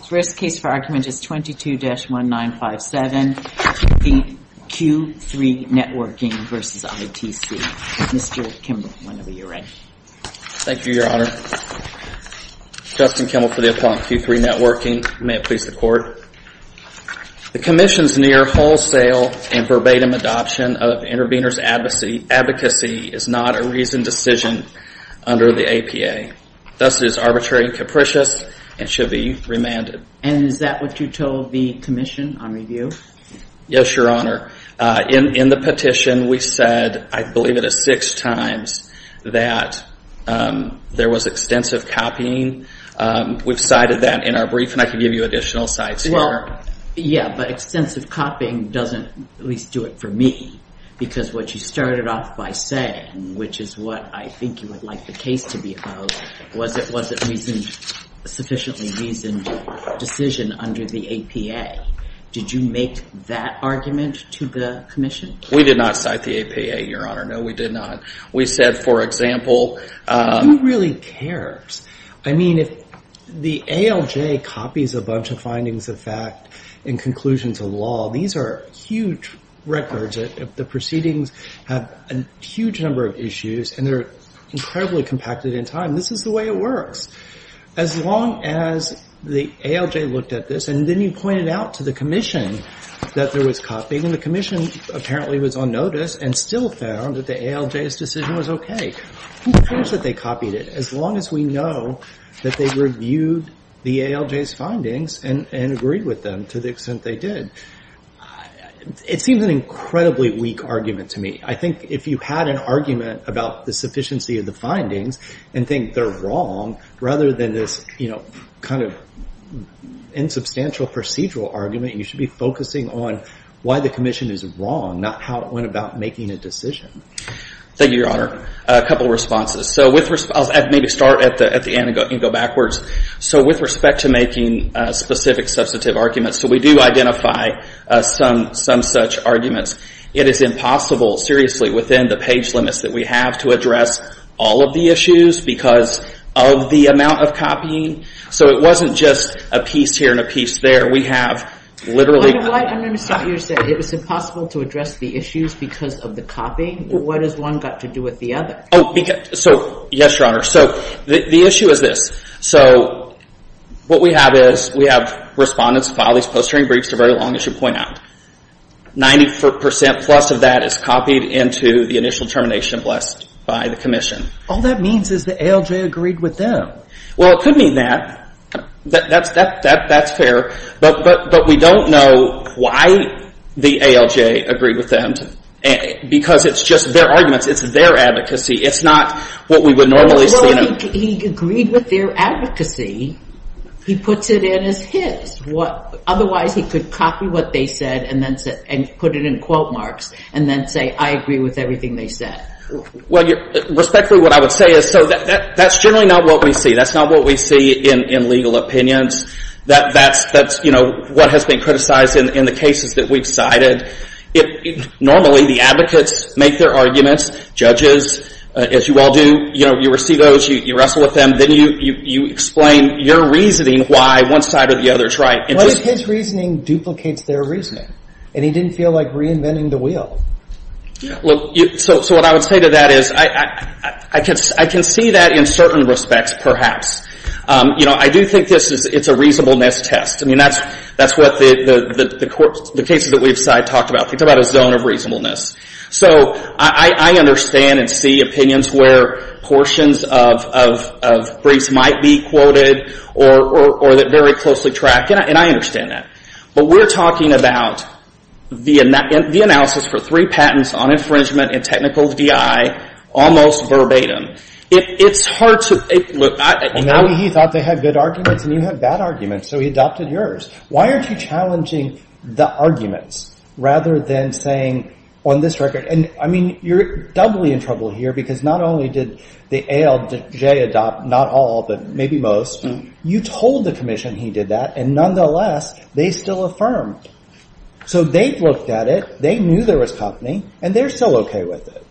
The first case for argument is 22-1957, Q3 Networking v. ITC. Mr. Kimball, whenever you're ready. Thank you, Your Honor. Justin Kimball for the Appellant, Q3 Networking. May it please the Court. The Commission's near wholesale and verbatim adoption of intervener's advocacy is not a reasoned decision under the APA. Thus it is arbitrary and capricious and should be remanded. And is that what you told the Commission on review? Yes, Your Honor. In the petition, we said, I believe it is six times, that there was extensive copying. We've cited that in our brief, and I can give you additional sites here. Well, yeah, but extensive copying doesn't at least do it for me, because what you started off by saying, which is what I think you would like the case to be about, was it a sufficiently reasoned decision under the APA. Did you make that argument to the Commission? We did not cite the APA, Your Honor. No, we did not. We said, for example… Who really cares? I mean, if the ALJ copies a bunch of findings of fact and conclusions of law, these are huge records. The proceedings have a huge number of issues, and they're incredibly compacted in time. This is the way it works. As long as the ALJ looked at this, and then you pointed out to the Commission that there was copying, and the Commission apparently was on notice and still found that the ALJ's decision was okay. Who cares that they copied it, as long as we know that they reviewed the ALJ's findings and agreed with them to the extent they did? It seems an incredibly weak argument to me. I think if you had an argument about the sufficiency of the findings and think they're wrong, rather than this kind of insubstantial procedural argument, you should be focusing on why the Commission is wrong, not how it went about making a decision. Thank you, Your Honor. A couple of responses. I'll maybe start at the end and go backwards. With respect to making specific substantive arguments, we do identify some such arguments. It is impossible, seriously, within the page limits that we have to address all of the issues because of the amount of copying. It wasn't just a piece here and a piece there. I don't understand what you're saying. It was impossible to address the issues because of the copying? What has one got to do with the other? Yes, Your Honor. The issue is this. What we have is, we have respondents file these post-hearing briefs. They're very long, as you point out. Ninety percent plus of that is copied into the initial determination blessed by the Commission. All that means is the ALJ agreed with them. Well, it could mean that. That's fair. But we don't know why the ALJ agreed with them. Because it's just their arguments. It's their advocacy. It's not what we would normally see. Well, he agreed with their advocacy. He puts it in as his. Otherwise, he could copy what they said and put it in quote marks and then say, I agree with everything they said. Respectfully, what I would say is, that's generally not what we see. That's not what we see in legal opinions. That's what has been criticized in the cases that we've cited. Normally, the advocates make their arguments. Judges, as you all do, you receive those. You wrestle with them. Then you explain your reasoning why one side or the other is right. But his reasoning duplicates their reasoning. And he didn't feel like reinventing the wheel. So what I would say to that is, I can see that in certain respects, perhaps. I do think it's a reasonableness test. I mean, that's what the cases that we've talked about. It's about a zone of reasonableness. So I understand and see opinions where portions of briefs might be quoted or that very closely track. And I understand that. But we're talking about the analysis for three patents on infringement and technical DI almost verbatim. It's hard to – Now he thought they had good arguments and you had bad arguments. So he adopted yours. Why aren't you challenging the arguments rather than saying on this record – and, I mean, you're doubly in trouble here because not only did the ALJ adopt not all but maybe most. You told the commission he did that. And nonetheless, they still affirmed. So they've looked at it. They knew there was company. And they're still OK with it.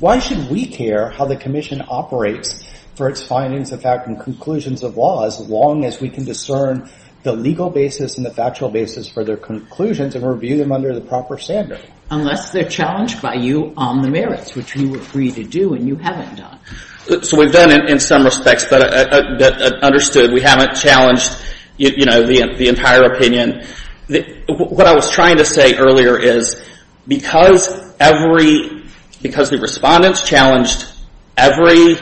Why should we care how the commission operates for its findings of fact and conclusions of law as long as we can discern the legal basis and the factual basis for their conclusions and review them under the proper standard? Unless they're challenged by you on the merits, which you agree to do and you haven't done. So we've done it in some respects that understood. We haven't challenged, you know, the entire opinion. What I was trying to say earlier is because every – because the respondents challenged every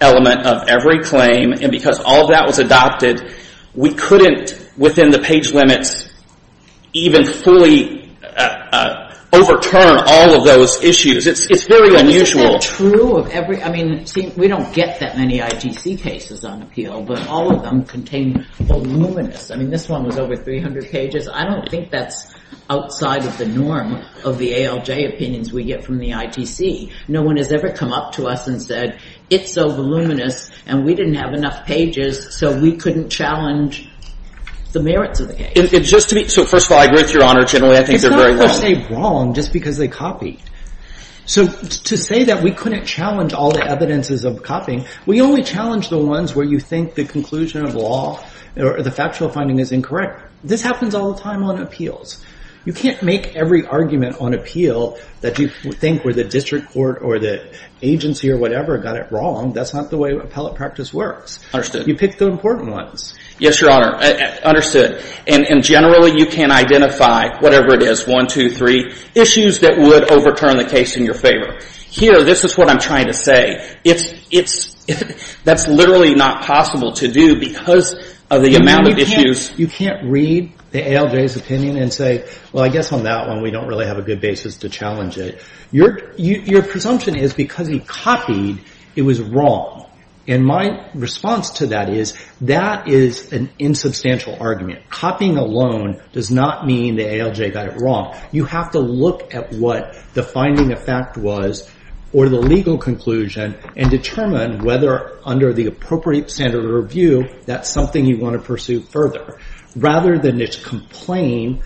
element of every claim and because all that was adopted, we couldn't, within the page limits, even fully overturn all of those issues. It's very unusual. Isn't that true of every – I mean, see, we don't get that many ITC cases on appeal, but all of them contain voluminous – I mean, this one was over 300 pages. I don't think that's outside of the norm of the ALJ opinions we get from the ITC. No one has ever come up to us and said it's so voluminous and we didn't have enough pages so we couldn't challenge the merits of the case. It's just to be – so first of all, I agree with Your Honor. Generally, I think they're very wrong. It's not per se wrong just because they copied. So to say that we couldn't challenge all the evidences of copying, we only challenge the ones where you think the conclusion of law or the factual finding is incorrect. This happens all the time on appeals. You can't make every argument on appeal that you think where the district court or the agency or whatever got it wrong. That's not the way appellate practice works. Understood. You pick the important ones. Yes, Your Honor. Understood. And generally, you can identify whatever it is, one, two, three, issues that would overturn the case in your favor. Here, this is what I'm trying to say. That's literally not possible to do because of the amount of issues. You can't read the ALJ's opinion and say, well, I guess on that one we don't really have a good basis to challenge it. Your presumption is because he copied, it was wrong. And my response to that is that is an insubstantial argument. Copying alone does not mean the ALJ got it wrong. You have to look at what the finding of fact was or the legal conclusion and determine whether under the appropriate standard of review that's something you want to pursue further, rather than just complain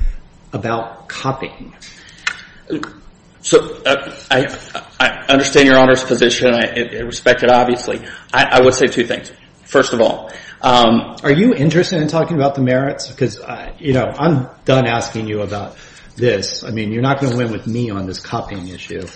about copying. I understand Your Honor's position. I respect it, obviously. I would say two things, first of all. Are you interested in talking about the merits? Because, you know, I'm done asking you about this. I mean, you're not going to win with me on this copying issue.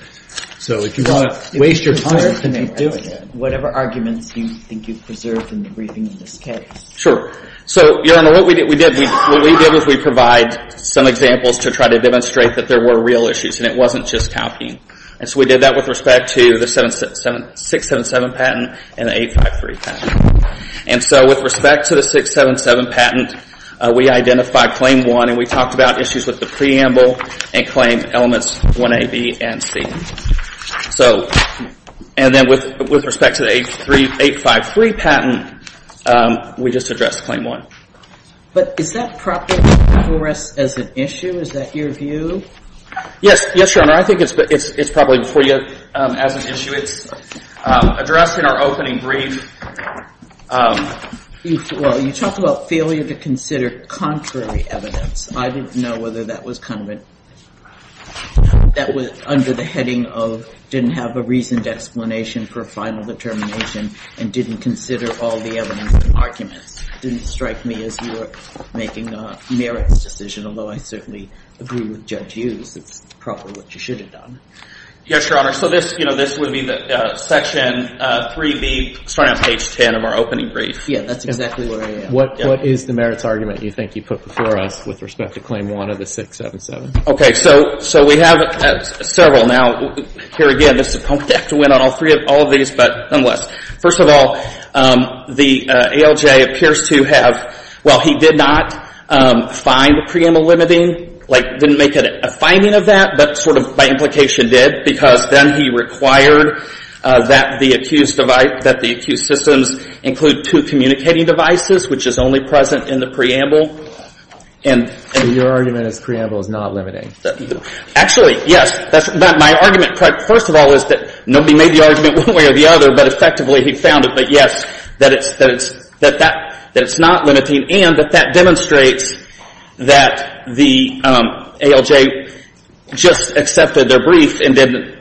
So if you want to waste your time, you can keep doing it. Whatever arguments you think you've preserved in the briefing of this case. Sure. So, Your Honor, what we did is we provide some examples to try to demonstrate that there were real issues and it wasn't just copying. And so we did that with respect to the 677 patent and the 853 patent. And so with respect to the 677 patent, we identified Claim 1 and we talked about issues with the preamble and claim elements 1A, B, and C. And then with respect to the 853 patent, we just addressed Claim 1. But is that proper for us as an issue? Is that your view? Yes, Your Honor. I think it's probably for you as an issue. It's addressed in our opening brief. Well, you talked about failure to consider contrary evidence. I didn't know whether that was under the heading of didn't have a reasoned explanation for a final determination and didn't consider all the evidence and arguments. It didn't strike me as you were making a merits decision, although I certainly agree with Judge Hughes. It's probably what you should have done. Yes, Your Honor. So this would be Section 3B starting on page 10 of our opening brief. Yes, that's exactly where I am. What is the merits argument you think you put before us with respect to Claim 1 of the 677? Okay, so we have several. Now, here again, this is a punk deck to win on all three of these, but nonetheless. First of all, the ALJ appears to have, well, he did not find preamble limiting, like didn't make a finding of that, but sort of by implication did because then he required that the accused systems include two communicating devices, which is only present in the preamble. And your argument is preamble is not limiting. Actually, yes. My argument, first of all, is that nobody made the argument one way or the other, but effectively he found it. But, yes, that it's not limiting and that that demonstrates that the ALJ just accepted their brief and didn't.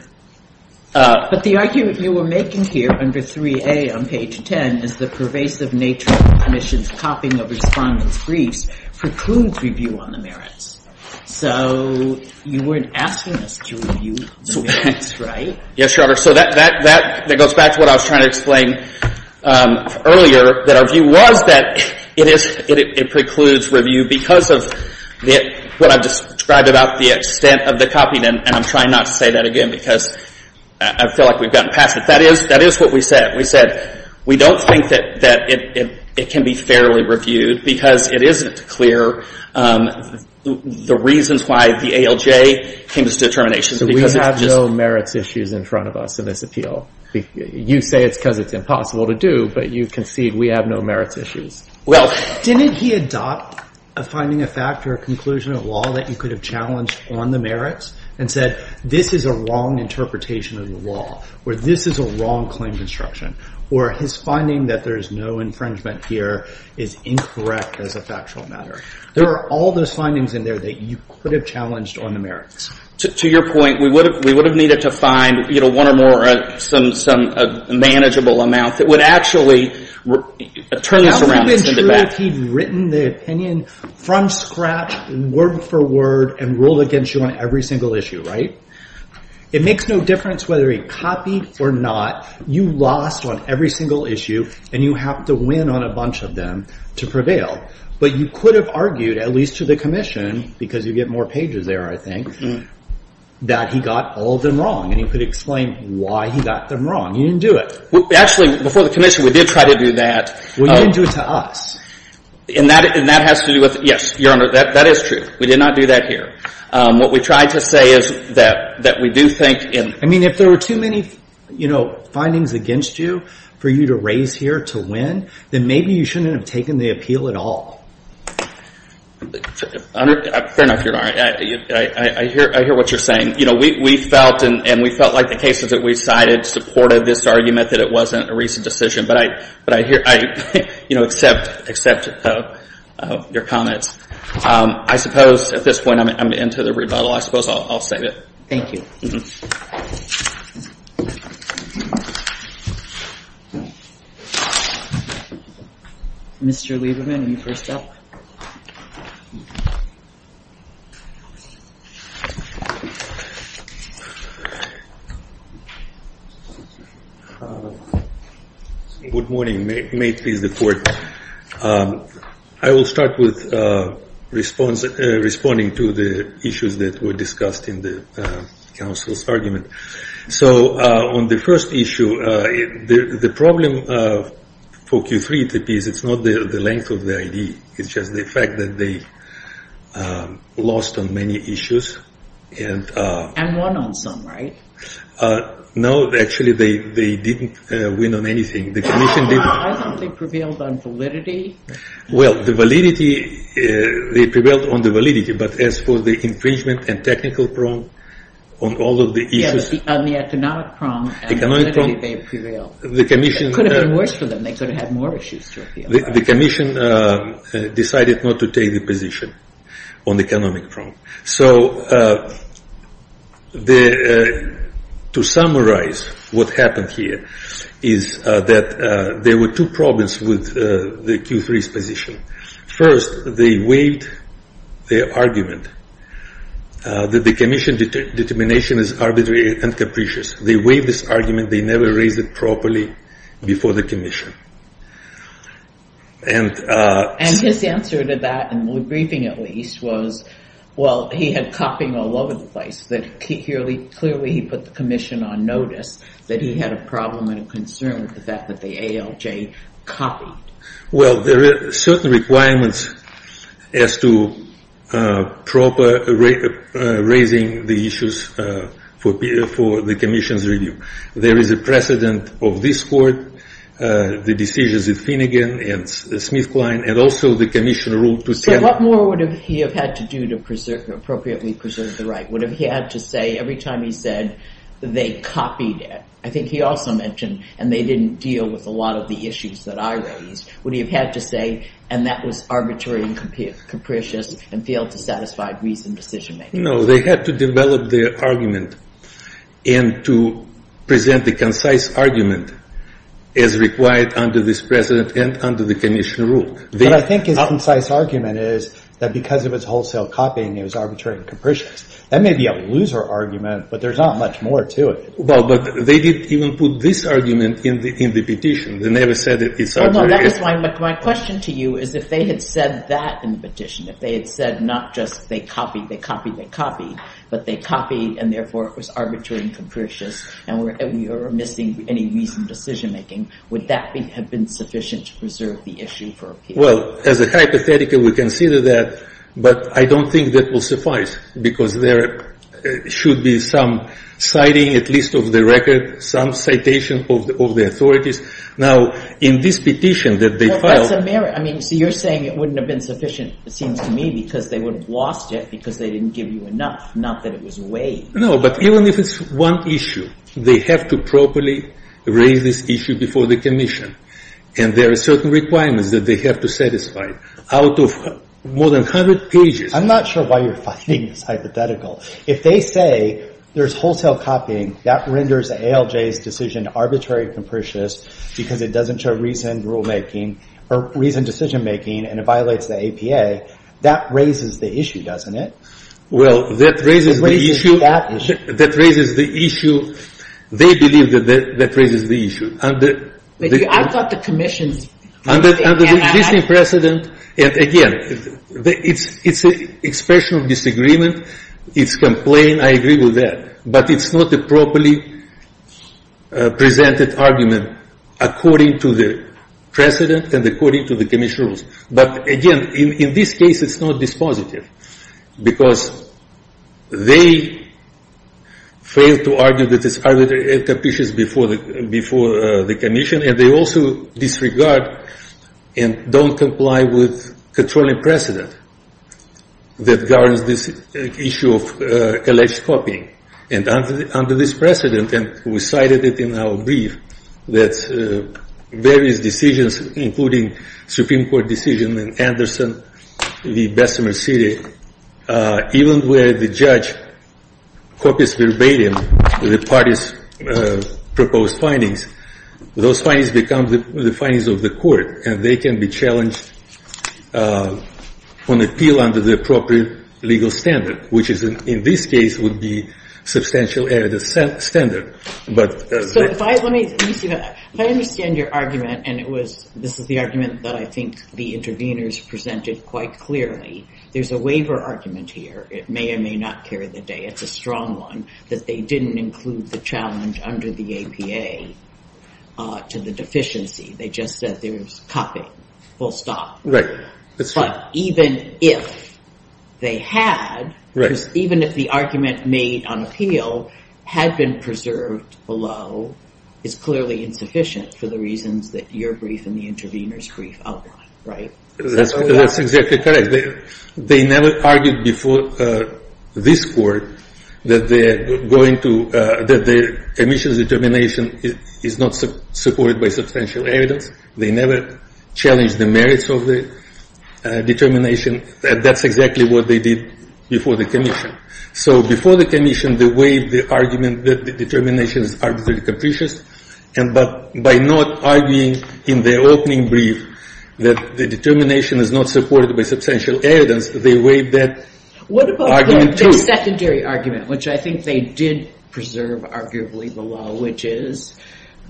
But the argument you were making here under 3A on page 10 is the pervasive nature of the Commission's copying of Respondent's briefs precludes review on the merits. So you weren't asking us to review the merits, right? Yes, Your Honor. So that goes back to what I was trying to explain earlier, that our view was that it precludes review because of what I've described about the extent of the copying and I'm trying not to say that again because I feel like we've gotten past it. That is what we said. We said we don't think that it can be fairly reviewed because it isn't clear the reasons why the ALJ came to this determination. So we have no merits issues in front of us in this appeal. You say it's because it's impossible to do, but you concede we have no merits issues. Well, didn't he adopt a finding of fact or a conclusion of law that you could have challenged on the merits and said this is a wrong interpretation of the law, or this is a wrong claim construction, or his finding that there is no infringement here is incorrect as a factual matter? There are all those findings in there that you could have challenged on the merits. To your point, we would have needed to find, you know, one or more, some manageable amount that would actually turn this around and send it back. What if he had written the opinion from scratch, word for word, and ruled against you on every single issue, right? It makes no difference whether he copied or not. You lost on every single issue, and you have to win on a bunch of them to prevail. But you could have argued, at least to the commission, because you get more pages there, I think, that he got all of them wrong, and he could explain why he got them wrong. You didn't do it. Actually, before the commission, we did try to do that. Well, you didn't do it to us. And that has to do with, yes, Your Honor, that is true. We did not do that here. What we tried to say is that we do think in— I mean, if there were too many, you know, findings against you for you to raise here to win, then maybe you shouldn't have taken the appeal at all. Fair enough, Your Honor. I hear what you're saying. You know, we felt, and we felt like the cases that we cited supported this argument that it wasn't a recent decision, but I, you know, accept your comments. I suppose at this point I'm going to end to the rebuttal. I suppose I'll save it. Thank you. Thank you. Mr. Lieberman, you first up. Good morning. May it please the Court. I will start with responding to the issues that were discussed in the counsel's argument. So on the first issue, the problem for Q3, it appears it's not the length of the ID. It's just the fact that they lost on many issues. And won on some, right? No, actually they didn't win on anything. I don't think they prevailed on validity. Well, the validity, they prevailed on the validity, but as for the infringement and technical problem, on all of the issues. Yes, on the economic problem and the validity they prevailed. It could have been worse for them. They could have had more issues to appeal. The commission decided not to take the position on the economic problem. So to summarize what happened here is that there were two problems with the Q3's position. First, they waived their argument that the commission determination is arbitrary and capricious. They waived this argument. They never raised it properly before the commission. And his answer to that, in the briefing at least, was, well, he had copying all over the place. Clearly he put the commission on notice that he had a problem and a concern with the fact that the ALJ copied. Well, there are certain requirements as to proper raising the issues for the commission's review. There is a precedent of this court, the decisions of Finnegan and Smith-Klein, and also the commission rule. But what more would he have had to do to appropriately preserve the right? Would he have had to say every time he said they copied it, I think he also mentioned, and they didn't deal with a lot of the issues that I raised, would he have had to say, and that was arbitrary and capricious and failed to satisfy reasoned decision-making? No, they had to develop their argument and to present the concise argument as required under this precedent and under the commission rule. But I think his concise argument is that because it was wholesale copying, it was arbitrary and capricious. That may be a loser argument, but there's not much more to it. Well, but they didn't even put this argument in the petition. They never said it's arbitrary. Well, no, that is my question to you is if they had said that in the petition, if they had said not just they copied, they copied, they copied, but they copied and therefore it was arbitrary and capricious and we are missing any reasoned decision-making, would that have been sufficient to preserve the issue for appeal? Well, as a hypothetical, we consider that, but I don't think that will suffice because there should be some citing at least of the record, some citation of the authorities. Now, in this petition that they filed… So you're saying it wouldn't have been sufficient, it seems to me, because they would have lost it because they didn't give you enough, not that it was weighed. No, but even if it's one issue, they have to properly raise this issue before the commission and there are certain requirements that they have to satisfy. Out of more than 100 pages… I'm not sure why you're finding this hypothetical. If they say there's wholesale copying, that renders ALJ's decision arbitrary and capricious because it doesn't show reasoned rulemaking or reasoned decision-making and it violates the APA, that raises the issue, doesn't it? Well, that raises the issue… It raises that issue. That raises the issue. They believe that that raises the issue. I thought the commission… Under the existing precedent, again, it's an expression of disagreement, it's a complaint, I agree with that, but it's not a properly presented argument according to the precedent and according to the commission rules. But again, in this case, it's not dispositive because they fail to argue that it's arbitrary and capricious before the commission and they also disregard and don't comply with controlling precedent that governs this issue of alleged copying. And under this precedent, and we cited it in our brief, that various decisions, including Supreme Court decision in Anderson v. Bessemer City, even where the judge copies verbatim the parties' proposed findings, those findings become the findings of the court and they can be challenged on appeal under the appropriate legal standard, which in this case would be substantial evidence standard. If I understand your argument, and this is the argument that I think the interveners presented quite clearly, there's a waiver argument here, it may or may not carry the day, it's a strong one, that they didn't include the challenge under the APA to the deficiency, they just said there was copying, full stop. Right. But even if they had, even if the argument made on appeal had been preserved below, it's clearly insufficient for the reasons that your brief and the intervener's brief outline, right? That's exactly correct. They never argued before this court that the commission's determination is not supported by substantial evidence. They never challenged the merits of the determination. That's exactly what they did before the commission. So before the commission, they waived the argument that the determination is arbitrarily capricious, but by not arguing in their opening brief that the determination is not supported by substantial evidence, they waived that argument too. What about the secondary argument, which I think they did preserve arguably below, which is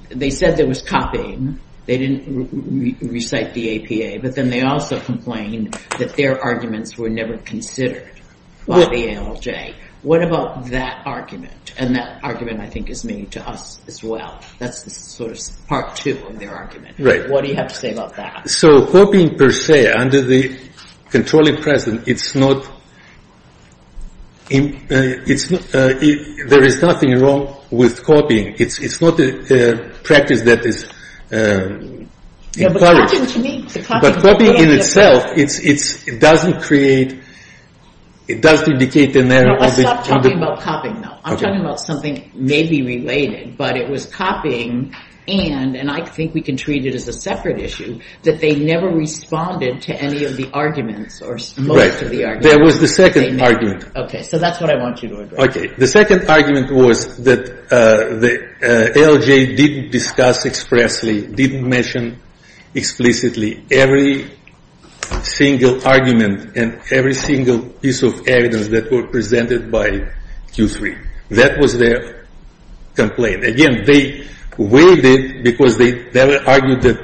they said there was copying, they didn't recite the APA, but then they also complained that their arguments were never considered by the ALJ. What about that argument? And that argument, I think, is made to us as well. That's sort of part two of their argument. Right. What do you have to say about that? So copying per se, under the controlling precedent, it's not, there is nothing wrong with copying. It's not a practice that is encouraged. But copying in itself, it doesn't create, it doesn't indicate an error. Let's stop talking about copying now. I'm talking about something maybe related, but it was copying and, and I think we can treat it as a separate issue, that they never responded to any of the arguments or most of the arguments. Right. There was the second argument. Okay. So that's what I want you to address. Okay. The second argument was that the ALJ didn't discuss expressly, didn't mention explicitly every single argument and every single piece of evidence that were presented by Q3. That was their complaint. Again, they weighed it because they never argued that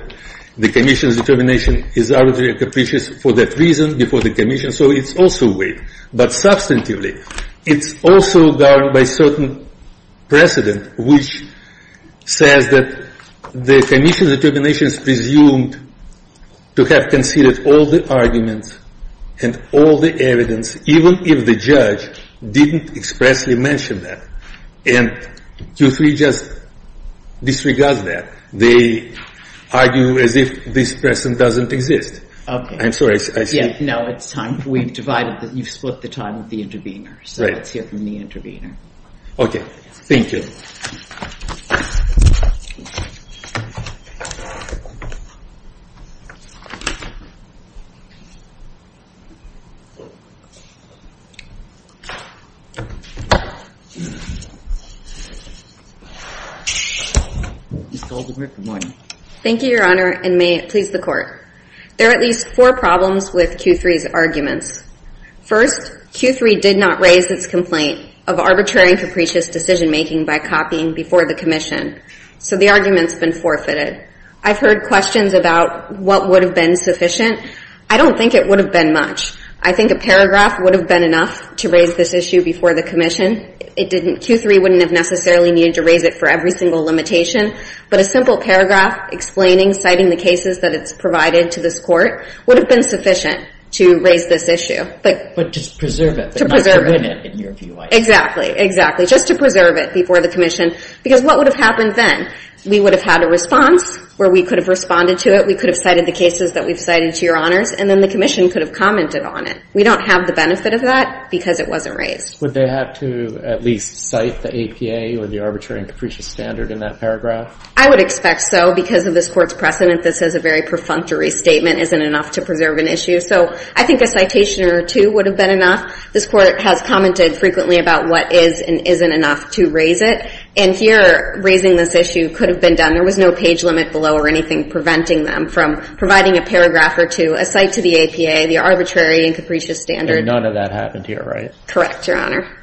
the commission's determination is arbitrary and capricious for that reason before the commission, so it's also weighed. But substantively, it's also governed by certain precedent, which says that the commission's determination is presumed to have conceded all the arguments and all the evidence, even if the judge didn't expressly mention that. And Q3 just disregards that. They argue as if this precedent doesn't exist. Okay. I'm sorry. I see. No, it's time. We've divided. You've split the time with the intervener, so let's hear from the intervener. Okay. Thank you. Ms. Goldenberg, good morning. Thank you, Your Honor, and may it please the Court. There are at least four problems with Q3's arguments. First, Q3 did not raise its complaint of arbitrary and capricious decision-making by copying before the commission, so the argument's been forfeited. I've heard questions about what would have been sufficient. I don't think it would have been much. I think a paragraph would have been enough to raise this issue before the commission. Q3 wouldn't have necessarily needed to raise it for every single limitation, but a simple paragraph explaining, citing the cases that it's provided to this court, would have been sufficient to raise this issue. But just preserve it, but not to win it, in your view, I guess. Exactly. Exactly. Just to preserve it before the commission. Because what would have happened then? We would have had a response where we could have responded to it, we could have cited the cases that we've cited to Your Honors, and then the commission could have commented on it. We don't have the benefit of that because it wasn't raised. Would they have to at least cite the APA or the arbitrary and capricious standard in that paragraph? I would expect so. Because of this Court's precedent, this is a very perfunctory statement, isn't enough to preserve an issue. So I think a citation or two would have been enough. This Court has commented frequently about what is and isn't enough to raise it. And here, raising this issue could have been done. There was no page limit below or anything preventing them from providing a paragraph or two, a cite to the APA, the arbitrary and capricious standard. And none of that happened here, right? Correct, Your Honor.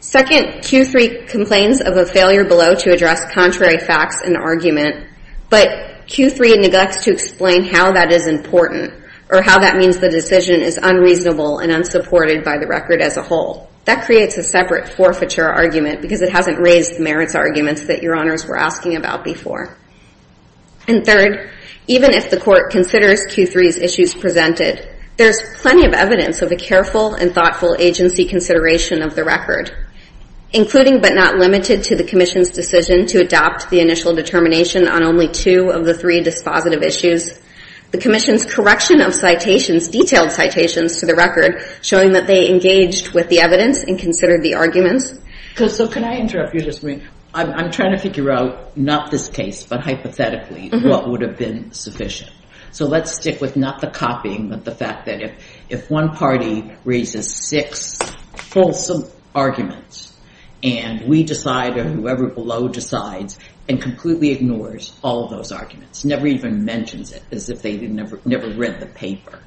Second, Q3 complains of a failure below to address contrary facts and argument, but Q3 neglects to explain how that is important or how that means the decision is unreasonable and unsupported by the record as a whole. That creates a separate forfeiture argument because it hasn't raised the merits arguments that Your Honors were asking about before. And third, even if the Court considers Q3's issues presented, there's plenty of evidence of a careful and thoughtful agency consideration of the record, including but not limited to the Commission's decision to adopt the initial determination on only two of the three dispositive issues. The Commission's correction of citations, detailed citations to the record, showing that they engaged with the evidence and considered the arguments. So can I interrupt you just a minute? I'm trying to figure out, not this case, but hypothetically, what would have been sufficient. So let's stick with not the copying, but the fact that if one party raises six fulsome arguments and we decide or whoever below decides and completely ignores all those arguments, never even mentions it as if they never read the paper,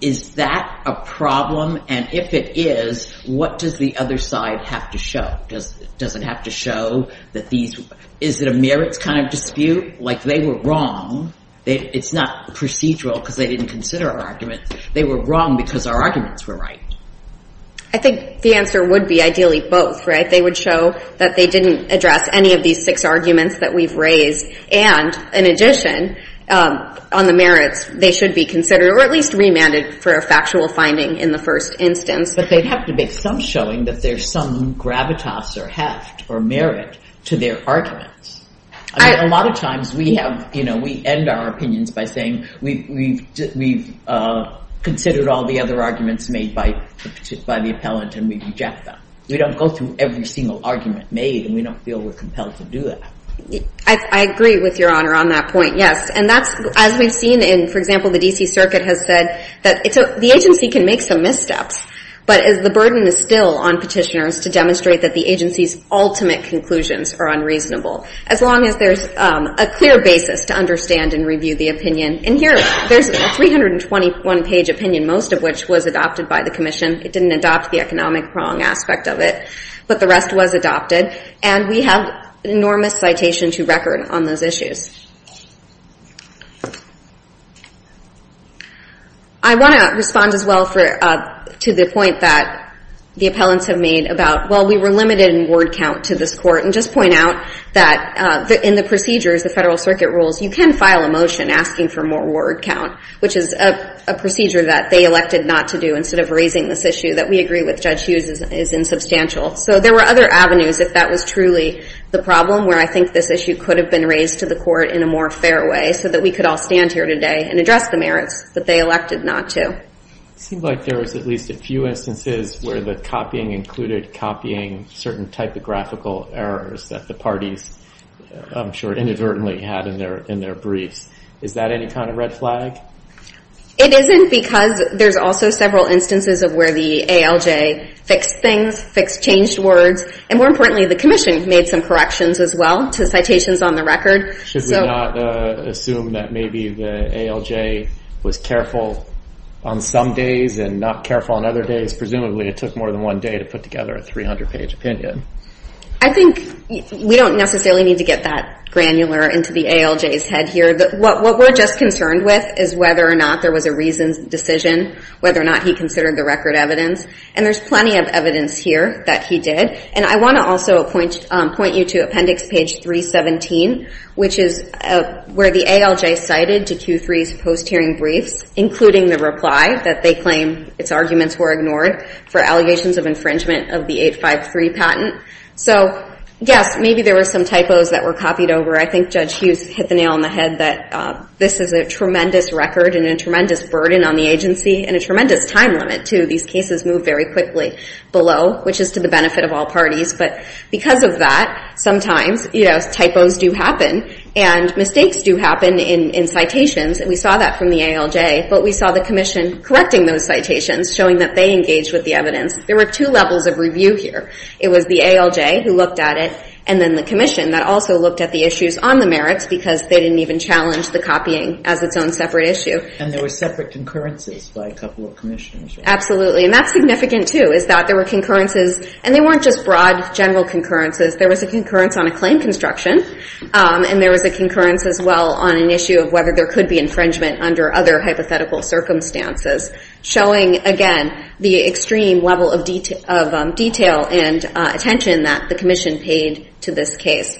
is that a problem? And if it is, what does the other side have to show? Does it have to show that these, is it a merits kind of dispute? Like they were wrong. It's not procedural because they didn't consider our arguments. They were wrong because our arguments were right. I think the answer would be ideally both, right? They would show that they didn't address any of these six arguments that we've raised, and in addition, on the merits, they should be considered or at least remanded for a factual finding in the first instance. But they'd have to make some showing that there's some gravitas or heft or merit to their arguments. I mean, a lot of times we have, you know, we end our opinions by saying we've considered all the other arguments made by the appellant and we reject them. We don't go through every single argument made, and we don't feel we're compelled to do that. I agree with Your Honor on that point, yes. And that's, as we've seen in, for example, the D.C. Circuit has said that the agency can make some missteps, but the burden is still on petitioners to demonstrate that the agency's ultimate conclusions are unreasonable as long as there's a clear basis to understand and review the opinion. And here there's a 321-page opinion, most of which was adopted by the Commission. It didn't adopt the economic wrong aspect of it, but the rest was adopted, and we have an enormous citation to record on those issues. I want to respond as well to the point that the appellants have made about, well, we were limited in word count to this Court, and just point out that in the procedures, the Federal Circuit rules, you can file a motion asking for more word count, which is a procedure that they elected not to do instead of raising this issue that we agree with Judge Hughes is insubstantial. So there were other avenues if that was truly the problem where I think this issue could have been raised to the Court in a more fair way so that we could all stand here today and address the merits that they elected not to. It seems like there was at least a few instances where the copying included copying certain typographical errors that the parties, I'm sure, inadvertently had in their briefs. Is that any kind of red flag? It isn't because there's also several instances of where the ALJ fixed things, fixed changed words, and more importantly, the Commission made some corrections as well to citations on the record. Should we not assume that maybe the ALJ was careful on some days and not careful on other days? Presumably it took more than one day to put together a 300-page opinion. I think we don't necessarily need to get that granular into the ALJ's head here. What we're just concerned with is whether or not there was a reasoned decision, whether or not he considered the record evidence, and there's plenty of evidence here that he did. And I want to also point you to Appendix Page 317, which is where the ALJ cited to Q3's post-hearing briefs, including the reply that they claim its arguments were ignored for allegations of infringement of the 853 patent. So, yes, maybe there were some typos that were copied over. I think Judge Hughes hit the nail on the head that this is a tremendous record and a tremendous burden on the agency and a tremendous time limit, too. These cases move very quickly below, which is to the benefit of all parties. But because of that, sometimes, you know, typos do happen and mistakes do happen in citations, and we saw that from the ALJ. But we saw the Commission correcting those citations, showing that they engaged with the evidence. There were two levels of review here. It was the ALJ who looked at it and then the Commission that also looked at the issues on the merits because they didn't even challenge the copying as its own separate issue. And there were separate concurrences by a couple of Commissioners. Absolutely. And that's significant, too, is that there were concurrences, and they weren't just broad, general concurrences. There was a concurrence on a claim construction, and there was a concurrence as well on an issue of whether there could be infringement under other hypothetical circumstances, showing, again, the extreme level of detail and attention that the Commission paid to this case.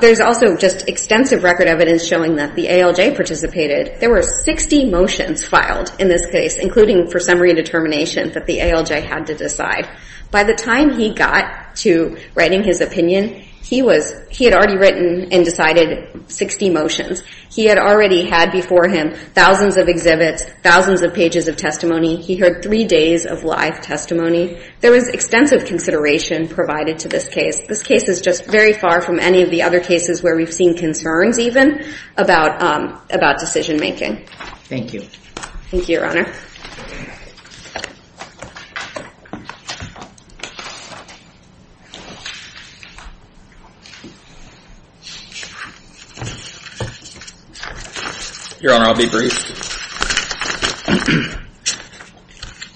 There's also just extensive record evidence showing that the ALJ participated. There were 60 motions filed in this case, including for summary determination that the ALJ had to decide. By the time he got to writing his opinion, he had already written and decided 60 motions. He had already had before him thousands of exhibits, thousands of pages of testimony. He heard three days of live testimony. There was extensive consideration provided to this case. This case is just very far from any of the other cases where we've seen concerns even about decision making. Thank you. Thank you, Your Honor. Your Honor, I'll be brief.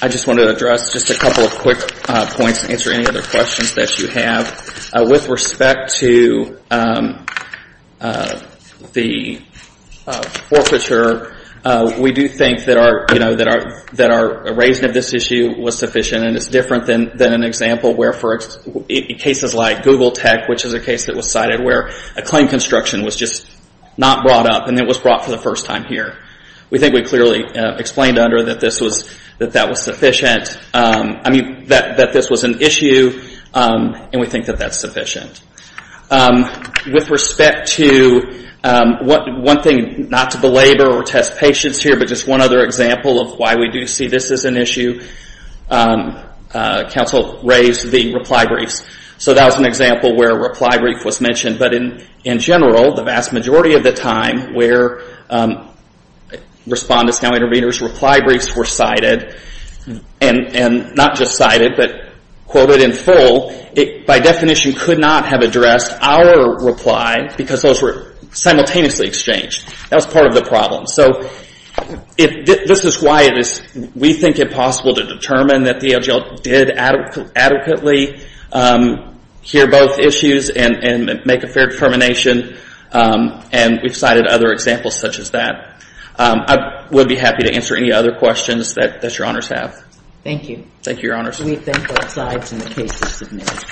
I just want to address just a couple of quick points and answer any other questions that you have. With respect to the forfeiture, we do think that our raising of this issue was sufficient, and it's different than an example where for cases like Google Tech, which is a case that was cited where a claim construction was just not brought up and it was brought for the first time here. We think we clearly explained under that this was sufficient. I mean, that this was an issue, and we think that that's sufficient. With respect to one thing, not to belabor or test patience here, but just one other example of why we do see this as an issue, counsel raised the reply briefs. So that was an example where a reply brief was mentioned, but in general, the vast majority of the time, where respondents, now interveners, reply briefs were cited, and not just cited, but quoted in full, by definition could not have addressed our reply because those were simultaneously exchanged. That was part of the problem. So this is why we think it possible to determine that the ALGL did adequately hear both issues and make a fair determination, and we've cited other examples such as that. I would be happy to answer any other questions that your honors have. Thank you. Thank you, your honors. We thank both sides, and the case is submitted.